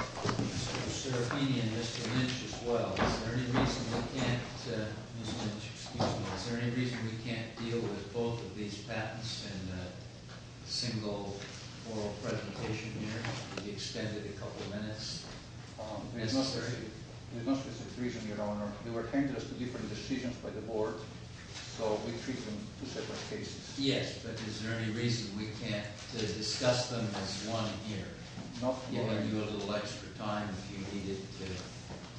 Mr. Serafini and Mr. Lynch as well, is there any reason we can't, Mr. Lynch excuse me, is there any reason we can't deal with both of these patents in a single oral presentation here, could we extend it a couple of minutes? There is no specific reason your honor, they were handed us to different decisions by the board, so we treat them two separate cases. Yes, but is there any reason we can't discuss them as one here? You have a little extra time if you needed to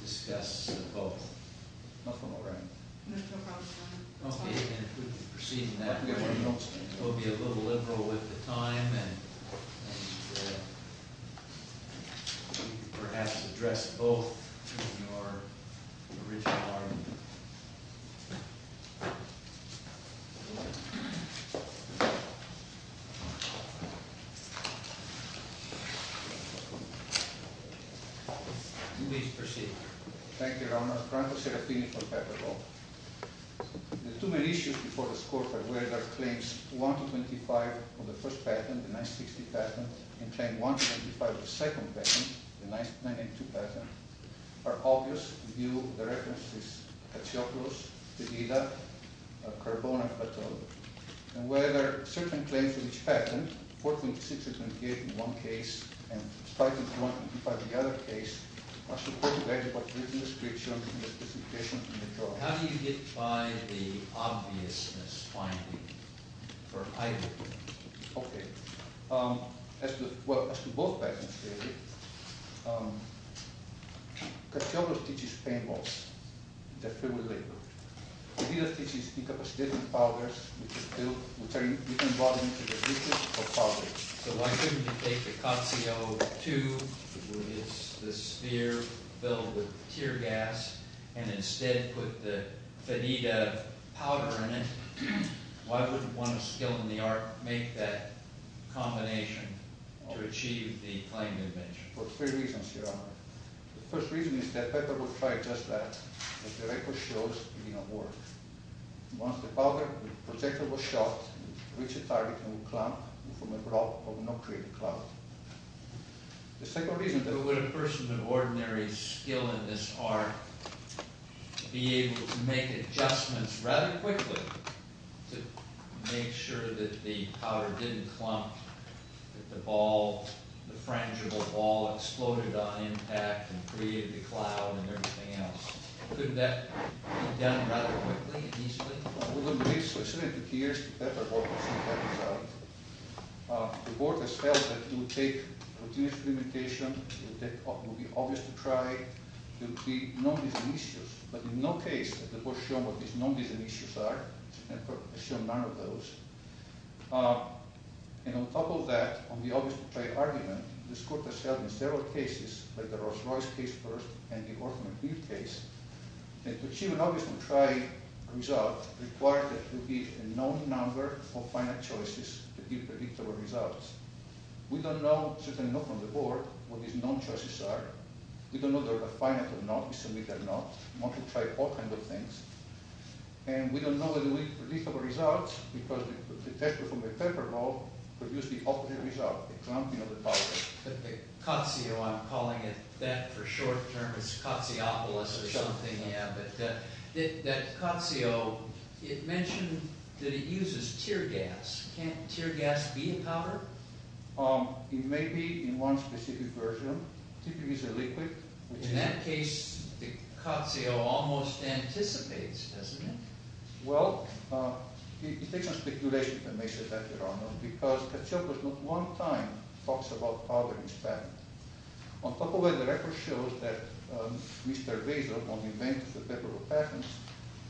discuss both. Okay, and if we could proceed in that manner, we'll be a little liberal with the time and perhaps address both in your original argument. Please proceed. How do you get by the obviousness finding for either? Okay, as to both patents, Katsiotis teaches paintballs that fill with liquid. So why couldn't you take the Katsiotis II, which is the sphere filled with tear gas, and instead put the Fenida powder in it? Why wouldn't one of skill in the art make that combination to achieve the claim you mentioned? There are three reasons, your honor. The first reason is that Pepper would try just that, but the record shows it did not work. Once the powder, the projector was shot, it would reach a target and would clump from above, but would not create a cloud. The second reason... Would a person of ordinary skill in this art be able to make adjustments rather quickly to make sure that the powder didn't clump, that the ball, the frangible ball, exploded on impact and created the cloud and everything else? Couldn't that be done rather quickly and easily? The court has felt that it would take continuous experimentation, it would be obvious to try, there would be non-design issues, but in no case has the court shown what these non-design issues are, and has shown none of those. And on top of that, on the obvious to try argument, this court has held in several cases, like the Rolls-Royce case first, and the Orton and Cleve case, that to achieve an obvious to try result requires that you give a known number of finite choices to give predictable results. We don't know, certainly not from the board, what these known choices are. We don't know whether they're finite or not, we submit that or not. We want to try all kinds of things. And we don't know the predictable results, because the test performed by Pepperdall produced the opposite result, the clumping of the powder. The Cotzeo, I'm calling it that for short term, it's Cotzeopolis or something, yeah, but that Cotzeo, it mentioned that it uses tear gas. Can't tear gas be a powder? It may be in one specific version. In that case, the Cotzeo almost anticipates, doesn't it? Well, it takes some speculation to make that, Your Honor, because Cotzeopolis not one time talks about powder in his patent. On top of that, the record shows that Mr. Vazor, one of the inventors of Pepperdall patents,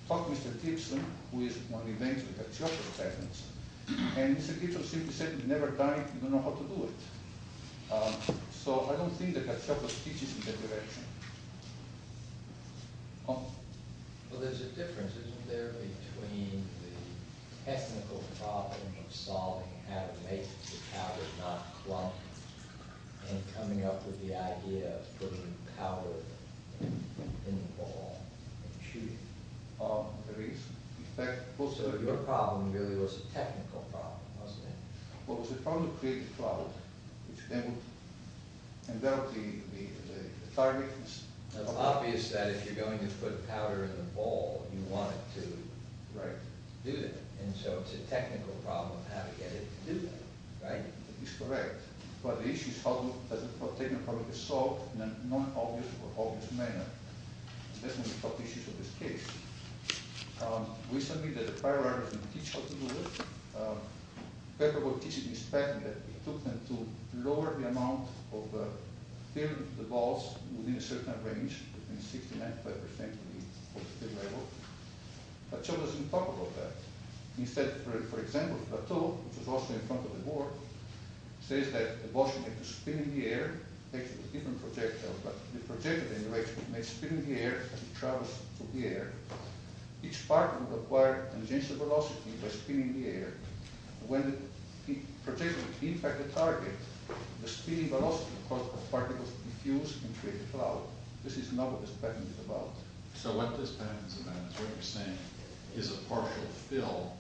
talked to Mr. Gibson, who is one of the inventors of Cotzeopolis patents, and Mr. Gibson simply said, we never tried, we don't know how to do it. So I don't think that Pepperdall teaches in that direction. Well, there's a difference, isn't there, between the technical problem of solving how to make the powder not clump and coming up with the idea of putting powder in the ball and shooting it? There is. So your problem really was a technical problem, wasn't it? Well, it was a problem to create the cloud, and develop the timings. It's obvious that if you're going to put powder in the ball, you want it to do that. And so it's a technical problem how to get it to do that, right? It's correct. But the issue is how the technical problem is solved in a non-obvious or obvious manner. That's one of the top issues of this case. We submit that the prior authors didn't teach how to do it. Pepperdall teaches in his patent that it took them to lower the amount of filling the balls within a certain range, between 60% and 95% of the level. But Cotzeopolis doesn't talk about that. Instead, for example, Plateau, which is also in front of the board, says that the ball should make a spin in the air, but the projected energy makes a spin in the air as it travels through the air. Each part will acquire and change the velocity by spinning the air. When the projection impacts the target, the spinning velocity causes the particles to diffuse and create a cloud. This is not what this patent is about. So what this patent is about is what you're saying is a partial fill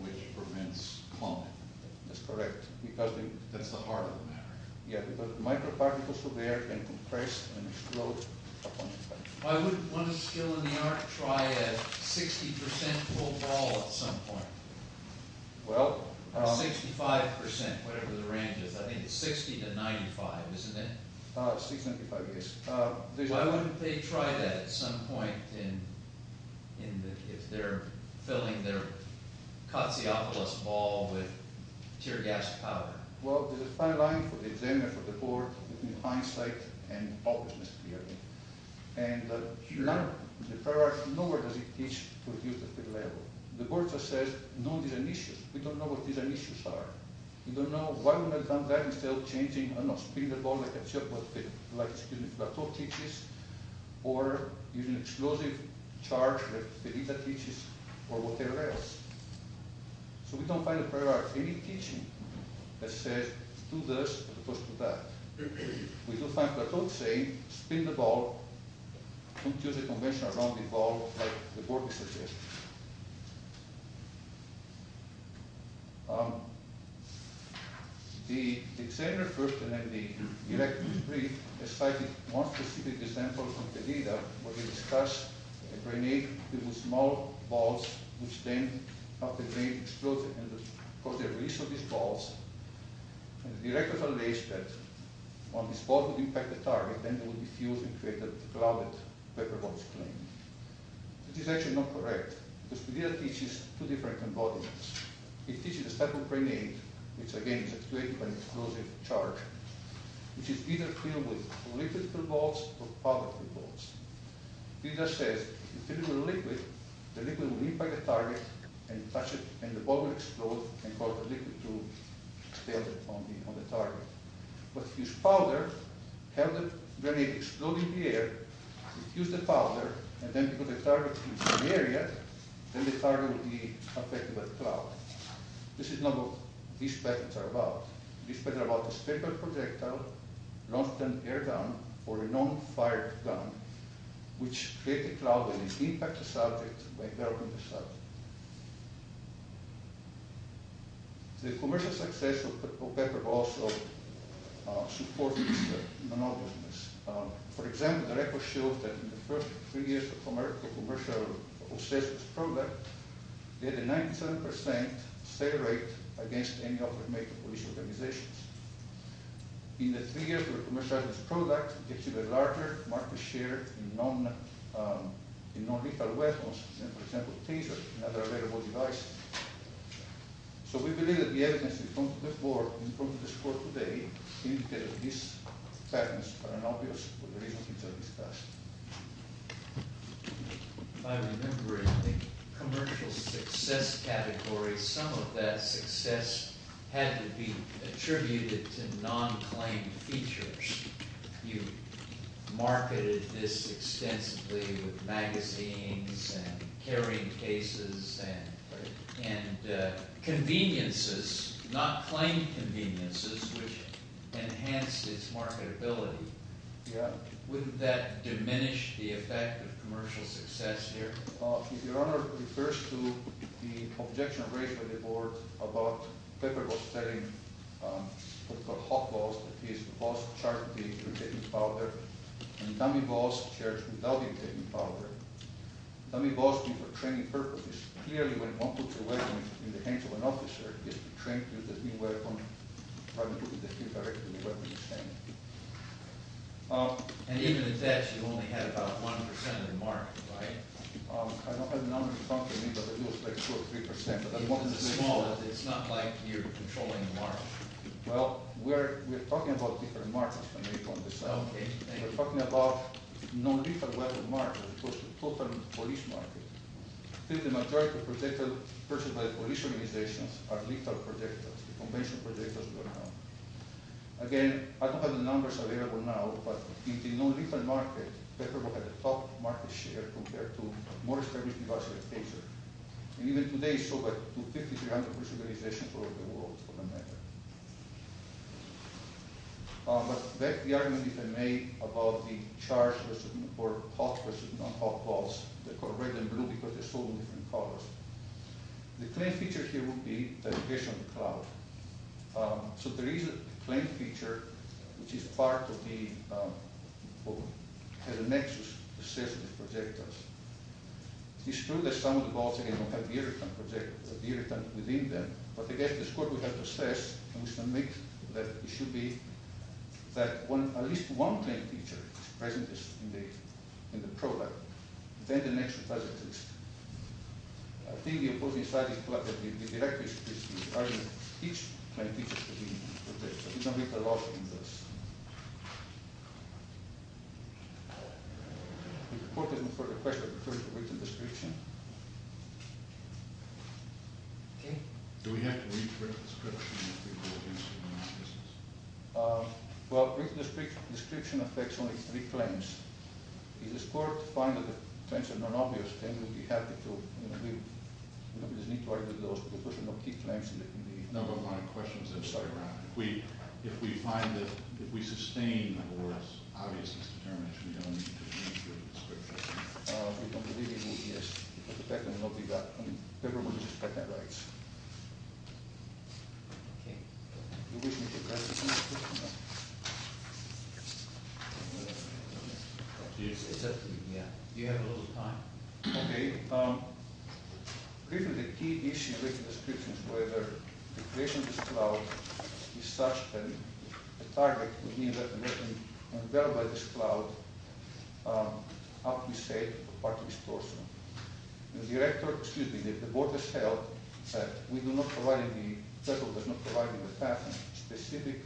which prevents cloning. That's correct. That's the heart of the matter. Yeah, because microparticles through the air can compress and explode upon impact. Why wouldn't one of the skill in the art try a 60% full ball at some point? Well… 65%, whatever the range is. I think it's 60 to 95, isn't it? 65, yes. Why wouldn't they try that at some point if they're filling their Cotzeopolis ball with tear gas powder? Well, there's a fine line for the examiner, for the board, between hindsight and obviousness, clearly. And in the prior art, nowhere does it teach to reduce the fill level. The board just says, no, these are an issue. We don't know what these are issues are. We don't know why wouldn't they try that instead of changing, I don't know, spinning the ball like a Cotzeopolis, like, excuse me, Flateau teaches, or using explosive charge like Felita teaches, or whatever else. So we don't find in the prior art any teaching that says, do this as opposed to that. We do find Cotzeopolis saying, spin the ball, don't use a conventional rounded ball like the board is suggesting. The examiner first, and then the director was briefed, cited one specific example from Felita, where they discussed a grenade with small balls, which then, after being exploded, caused the release of these balls. And the director found this, that when this ball would impact the target, then there would be fumes and create a clouded, pepper-boxed flame. This is actually not correct. Felita teaches two different embodiments. It teaches a type of grenade, which again is actuated by an explosive charge, which is either filled with liquid-filled balls or powder-filled balls. Felita says, you fill it with liquid, the liquid will impact the target, and the ball will explode and cause the liquid to expel on the target. But if you use powder, have the grenade explode in the air, if you use the powder, and then put the target in some area, then the target will be affected by the cloud. This is not what these patterns are about. These patterns are about a paper projectile launched in an air gun or a non-fired gun, which creates a cloud and impacts the subject by enveloping the subject. The commercial success of pepper also supports this monotonousness. For example, the record shows that in the first three years of commercial success of this program, they had a 97% sale rate against any offer made to police organizations. In the three years of commercial success of this product, it achieved a larger market share in non-lethal weapons, for example tasers and other available devices. So we believe that the evidence in front of this board today indicates that these patterns are not obvious, but the reasons are discussed. By remembering the commercial success category, some of that success had to be attributed to non-claimed features. You marketed this extensively with magazines and carrying cases and conveniences, not claimed conveniences, which enhanced its marketability. Wouldn't that diminish the effect of commercial success here? Your Honor, it refers to the objection raised by the board about Pepper was selling what's called hotballs, that is, the boss charged me with taking powder and dummy balls charged without him taking powder. Dummy balls mean for training purposes. Clearly, when one puts a weapon in the hands of an officer, he is trained to use the new weapon. And even in that, you only had about 1% of the market, right? I don't have the number in front of me, but it was like 2 or 3%. Even the smallest, it's not like you're controlling the market. Well, we're talking about different markets when we talk about this. Okay. We're talking about non-lethal weapon markets as opposed to total police markets. I think the majority of projectiles purchased by police organizations are lethal projectiles. Conventional projectiles do not count. Again, I don't have the numbers available now, but in the non-lethal market, Pepper had the top market share compared to most everything else in the picture. And even today, so do 5,300 police organizations all over the world for that matter. But back to the argument that I made about the charged or hot versus non-hot balls. They're called red and blue because they're sold in different colors. The claim feature here would be the location of the cloud. So there is a claim feature, which is part of the nexus, the system of projectiles. It's true that some of the balls, again, don't have the irritant within them, but, again, the score we have to assess and we submit that it should be that at least one claim feature is present in the product. Then the nexus doesn't exist. I think the opposing side is the argument that each claim feature should be protected, but we don't make the law to do this. If the court has no further questions, I refer you to the written description. Okay. Do we have to read the written description? Well, written description affects only three claims. If the court finds that the claims are not obvious, then we'd be happy to, you know, we don't need to argue with those papers. There are no key claims. No, but my question is that if we find that if we sustain a more obvious determination, we don't need to read the written description. We don't need to read the written description. We don't believe it will exist. The patent will not be gotten. The paper was just patent rights. Okay. Do you wish me to address this in the written description? No. It's up to you. Yeah. You have a little time. Okay. Briefly, the key issue with the description is whether the creation of this cloud is such that the target would mean that the patent would be unveiled by this cloud after we say that the patent is closed. The director, excuse me, the board has held that we do not provide, the federal does not provide in the patent specific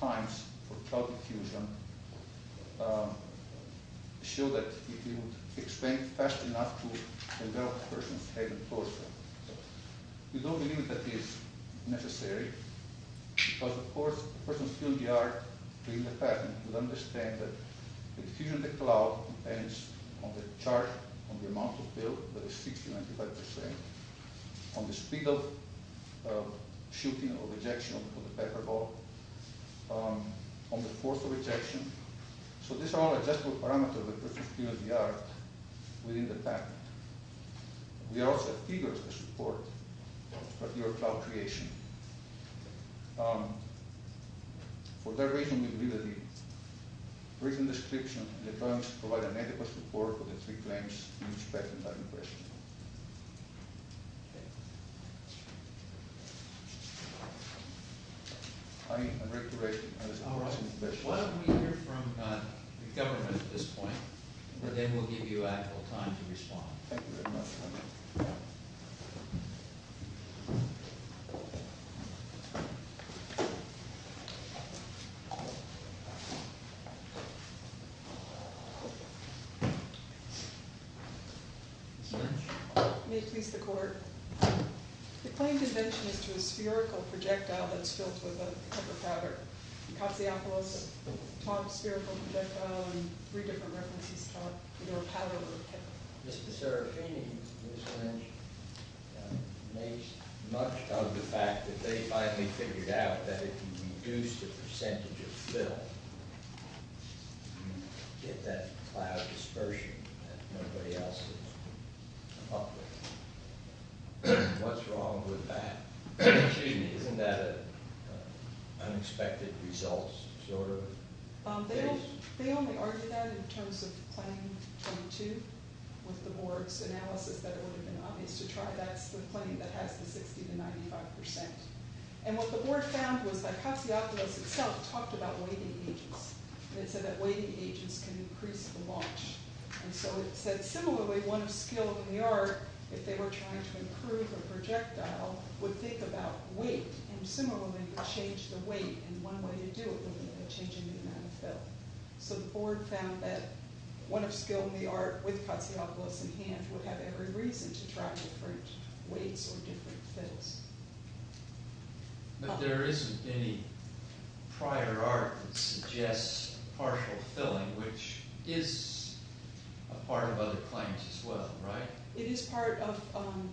times for cloud diffusion to show that it would expand fast enough to envelop a person's head and torso. We don't believe that is necessary because, of course, a person's field of the art, reading the patent, would understand that the diffusion of the cloud depends on the chart, on the amount of bill, that is 60 to 95 percent, on the speed of shooting or ejection of the pepper ball, on the force of ejection. So these are all adjustable parameters of a person's field of the art within the patent. We are also eager to support your cloud creation. For that reason, we believe that the written description in the terms provide an adequate support for the three claims in respect to the patent question. I am ready to raise the question. Why don't we hear from the government at this point, and then we'll give you ample time to respond. Thank you very much. May it please the court. The claimed invention is to a spherical projectile that's filled with a pepper powder. Katsiopoulos taught a spherical projectile in three different references to a powder with a pepper. Mr. Serafini and Ms. Lynch made much of the fact that they finally figured out that if you reduce the percentage of fill, you get that cloud dispersion that nobody else has come up with. What's wrong with that? Excuse me. Isn't that an unexpected result? They only argued that in terms of claim 22 with the board's analysis that it would have been obvious to try. That's the claim that has the 60 to 95 percent. And what the board found was that Katsiopoulos itself talked about waiting ages. It said that waiting ages can increase the launch. And so it said similarly, one of skill in the art, if they were trying to improve a weight, and similarly change the weight, and one way to do it would be by changing the amount of fill. So the board found that one of skill in the art with Katsiopoulos in hand would have every reason to try different weights or different fills. But there isn't any prior art that suggests partial filling, which is a part of other claims as well, right? It is part of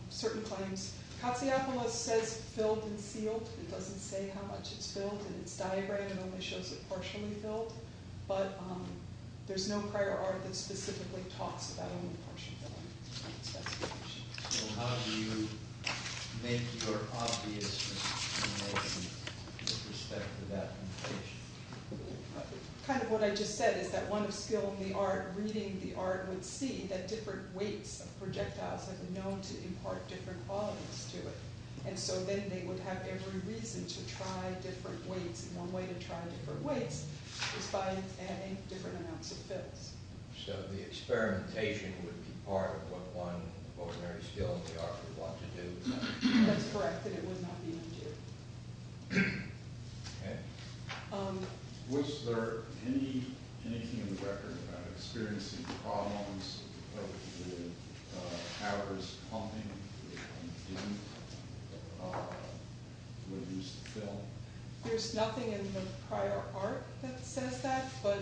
certain claims. Katsiopoulos says filled and sealed. It doesn't say how much it's filled in its diagram. It only shows it partially filled. But there's no prior art that specifically talks about only partial filling. So how do you make your obviousness in the perspective of application? Kind of what I just said is that one of skill in the art, reading the art, would see that there are different weights of projectiles that are known to impart different volumes to it. And so then they would have every reason to try different weights, and one way to try different weights is by adding different amounts of fills. So the experimentation would be part of what one of ordinary skill in the art would want to do? That's correct, that it would not be undue. Okay. Was there anything in the record about experiencing problems of the hours of pumping that didn't reduce the fill? There's nothing in the prior art that says that, but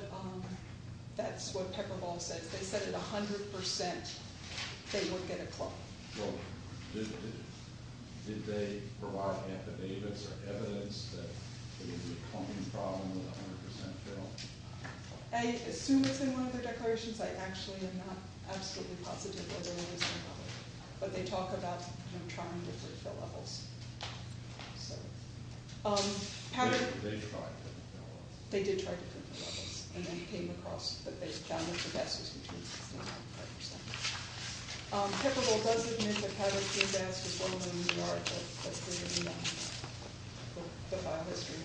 that's what Pepperball says. They said at 100% they would get a clump. Did they provide antidotes or evidence that it was a clumping problem with 100% fill? I assume it's in one of their declarations. I actually am not absolutely positive whether it is in public. But they talk about trying to fill levels. They tried to fill levels. They did try to fill levels. And they came across that they found that the best was between 65% and 75%. Pepperball does admit that having fill gas was one of the main art that created the file history.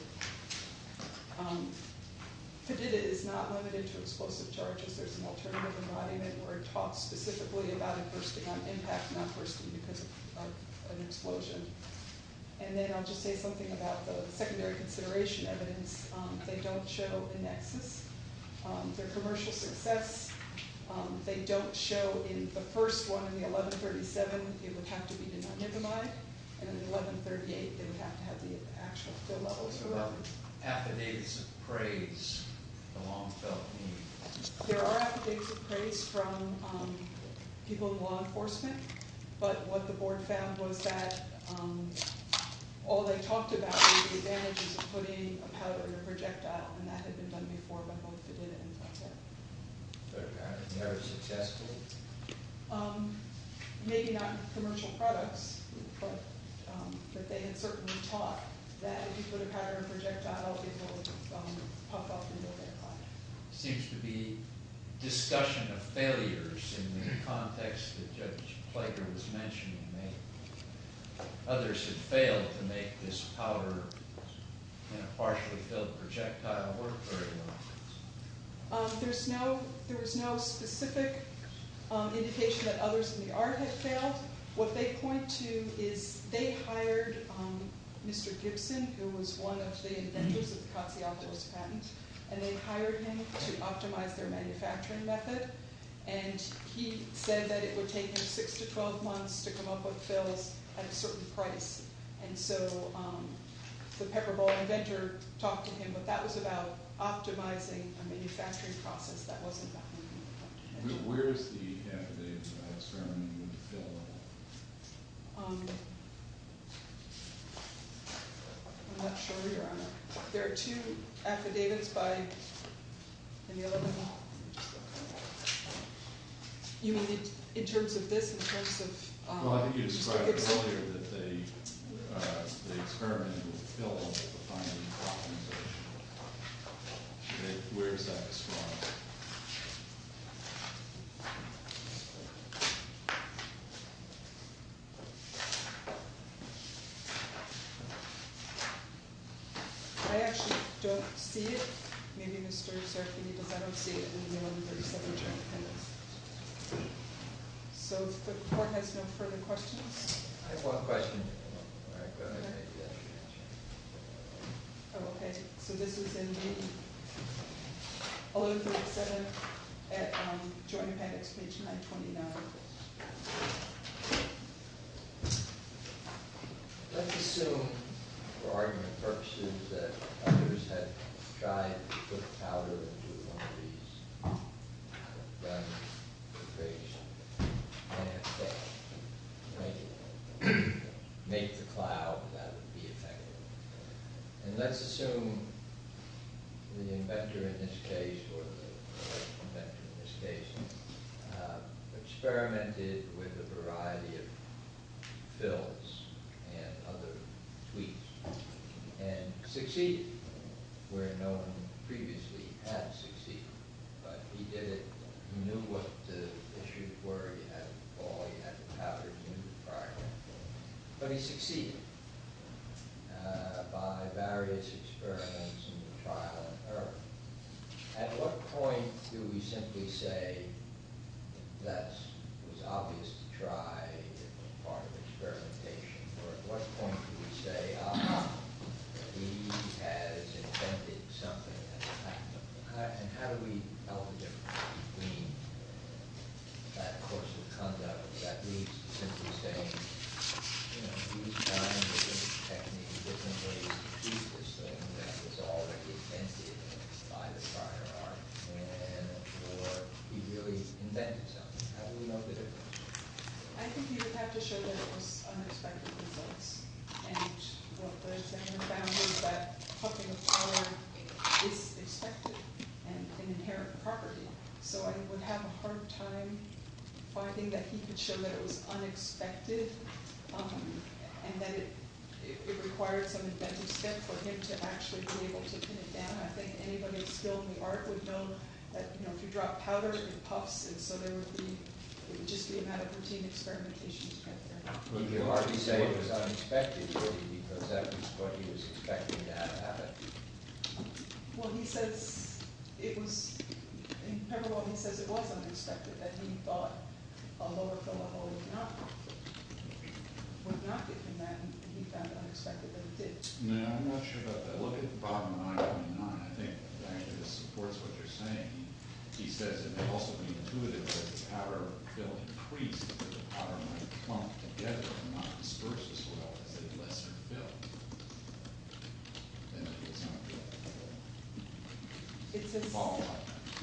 Padida is not limited to explosive charges. There's an alternative embodiment where it talks specifically about it bursting on impact and not bursting because of an explosion. And then I'll just say something about the secondary consideration evidence. They don't show a nexus. Their commercial success, they don't show in the first one, in the 1137, it would have to be to not nicomide. And in 1138, they would have to have the actual fill levels. There are affidavits of praise from people in law enforcement. But what the board found was that all they talked about was the advantages of putting a powder in a projectile. And that had been done before by both Padida and Padilla. But apparently they were successful? Maybe not in commercial products, but they had certainly taught that if you put a powder in a projectile, it will pop up in your aircraft. Seems to be discussion of failures in the context that Judge Klager was mentioning. Others had failed to make this powder in a partially filled projectile work very well. There was no specific indication that others in the art had failed. What they point to is they hired Mr. Gibson, who was one of the inventors of the Katsiopoulos patent, and they hired him to optimize their manufacturing method. And he said that it would take him 6 to 12 months to come up with fills at a certain price. And so the Pepper Bowl inventor talked to him, but that was about optimizing a manufacturing process. That wasn't that. Where is the affidavit of ceremony with the fill level? I'm not sure, Your Honor. There are two affidavits by... You mean in terms of this, in terms of... Well, I think you described it earlier, that the experiment with the fill level, the final optimization. Where is that described? I actually don't see it. Maybe Mr. Sarkini does. I don't see it in the 1137 Joint Appendix. So the Court has no further questions? I have one question. Oh, okay. So this is in the 1137 Joint Appendix, page 929. Let's assume, for argument purposes, that others had tried to put powder into one of these... make the cloud, that would be effective. And let's assume the inventor in this case, or the inventor in this case, experimented with a variety of fills and other tweaks and succeeded, where no one previously had succeeded. But he did it, he knew what the issues were, he had the ball, he had the powder, he knew the product. But he succeeded. By various experiments and trial and error. At what point do we simply say, thus, it was obvious to try, it was part of experimentation. Or at what point do we say, ah, he has invented something, and how do we tell the difference between that course of conduct? That means simply saying, you know, he was trying different techniques, different ways to do this thing that was already invented by the prior artisan, or he really invented something. How do we know the difference? I think you would have to show that it was unexpected results. And what the experiment found was that pumping of powder is expected and an inherent property. So I would have a hard time finding that he could show that it was unexpected, and that it required some inventive skill for him to actually be able to pin it down. I think anybody with skill in the art would know that if you drop powder, it puffs, and so there would be just the amount of routine experimentation to get there. Would the artist say it was unexpected, really, because that was what he was expecting to have happen? Well, he says it was, in parallel, he says it was unexpected, that he thought a lower fill-a-hole would not get him that, and he found it unexpected that it did. No, I'm not sure about that. Look at bottom line 29. I think that supports what you're saying. He says it may also be intuitive that the powder fill increased, that the powder might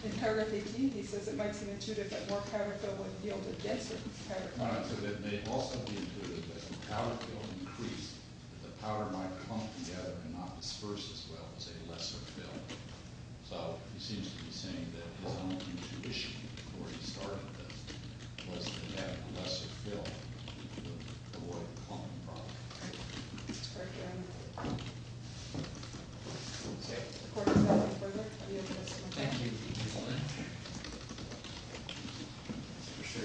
In paragraph 18, he says it might seem intuitive that more powder fill would yield a denser powder fill. All right, so that it may also be intuitive that the powder fill increased, that the powder might clump together and not disperse as well as a lesser fill. So he seems to be saying that his own intuition before he started this was that a lesser fill would avoid clumping properly. All right. Thank you, Your Honor. Okay. The Court is adjourned. Thank you. Thank you, Your Honor. Mr.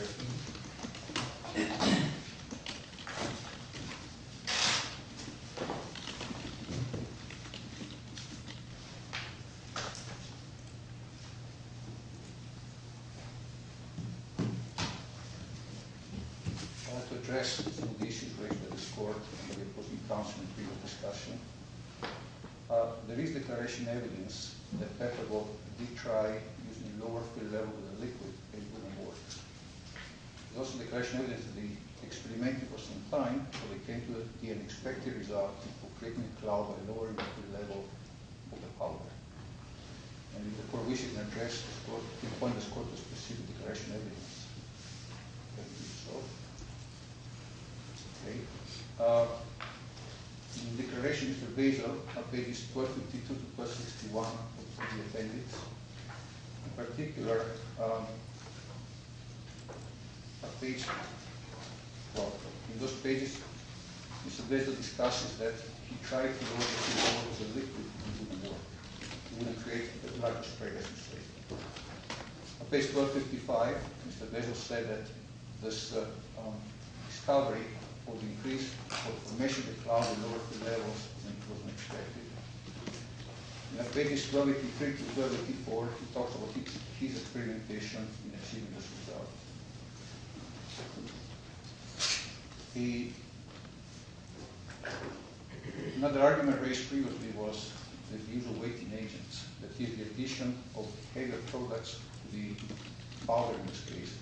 Sheriffman. I have to address some of the issues raised by this Court. It was inconsequential discussion. There is declaration evidence that Petrov did try using a lower fill level of the liquid and it wouldn't work. There's also declaration evidence that they experimented for some time until they came to the unexpected result of creating a cloud by lowering the fill level of the powder. And the Court wishes to address this Court, to appoint this Court to specific declaration evidence. Thank you, Your Honor. Thank you, Your Honor. Thank you so much. Thank you. Okay. In the declaration, Mr. Basil, on pages 1252 to 161 that he amended, in particular, on page 12. In those pages, Mr. Basil discusses that he tried to lower the fill levels of liquid and it wouldn't work. He wouldn't create a large spray as he stated. On page 1255, Mr. Basil said that this discovery would increase the formation of the cloud and lower the levels than it was expected. On pages 1283 to 1284, he talks about his experimentation in achieving this result. Another argument raised previously was that the usual weighting agents, that is, the addition of heavier products to the powder, in this case,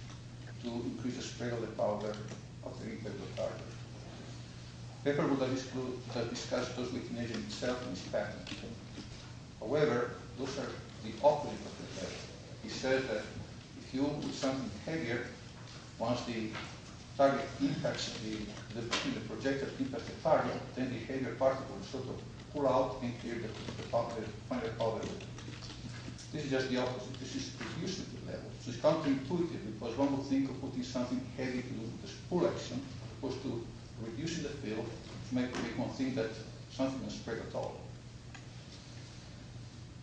to increase the spray of the powder after impact of the target. Pepperbrook has discussed those weighting agents himself in his patent. However, those are the opposite of the effect. He says that if you want to do something heavier, once the projective impacts the target, then the heavier particles sort of pull out and create a finer powder. This is just the opposite. This is reducing the levels. This is counterintuitive because one would think of putting something heavy to do with this pull action as opposed to reducing the fill to make people think that something will spray at all.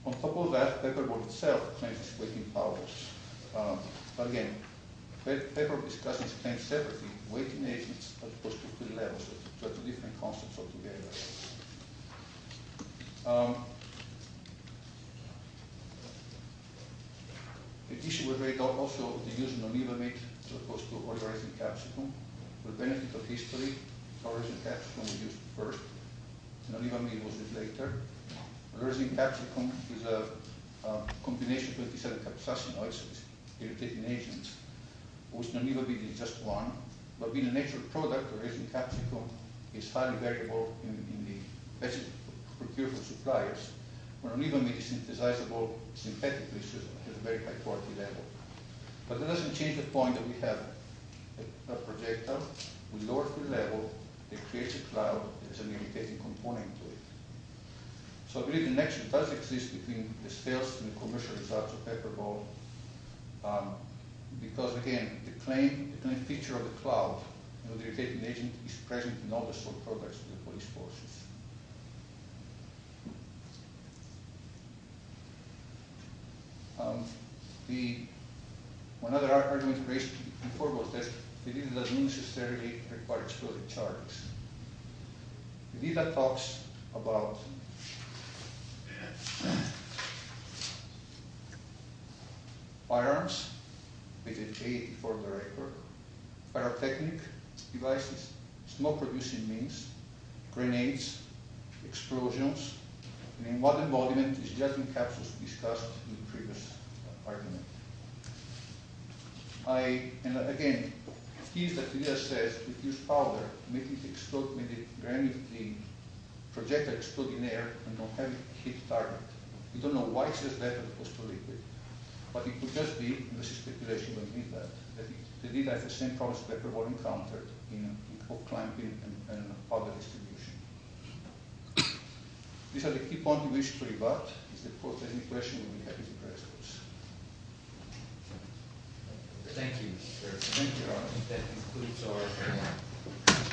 On top of that, Pepperbrook itself claims its weighting powers. Again, Pepperbrook discussions claims separately weighting agents as opposed to the levels which are two different concepts altogether. The issue with weighting also is the use of non-leave-a-meat as opposed to oil-raising capsicum. For the benefit of history, oil-raising capsicum was used first. Non-leave-a-meat was used later. Oil-raising capsicum is a combination of 27 capsaicin oils, irritating agents, of which a commercial product, oil-raising capsicum, is highly variable in the best procured for suppliers. Non-leave-a-meat is synthesizable synthetically. It has a very high quality level. But that doesn't change the point that we have a projectile. We lower the level. It creates a cloud. There's an irritating component to it. So I believe the connection does exist between the sales and the commercial results of Pepperbrook because, again, the claim feature of the cloud, the irritating agent, is present in all the sold products to the police forces. One other argument raised before was that the deal doesn't necessarily require explosive charges. Lida talks about firearms with a K-84 director, pyrotechnic devices, smoke-producing means, grenades, explosions, and what embodiment is just in capsules discussed in the previous argument. And, again, the key is that Lida says, with this powder, make it explode, make it grenade the projectile explode in the air, and don't have it hit the target. We don't know why she says that, but it goes to Lida. But it could just be, and this is speculation by Lida, that Lida has the same problem as Pepperbrook encountered in hook clamping and powder distribution. These are the key points we wish to rebut. If there's any questions, we'll be happy to address those. Thank you, sir. Thank you all. I think that concludes our hearing.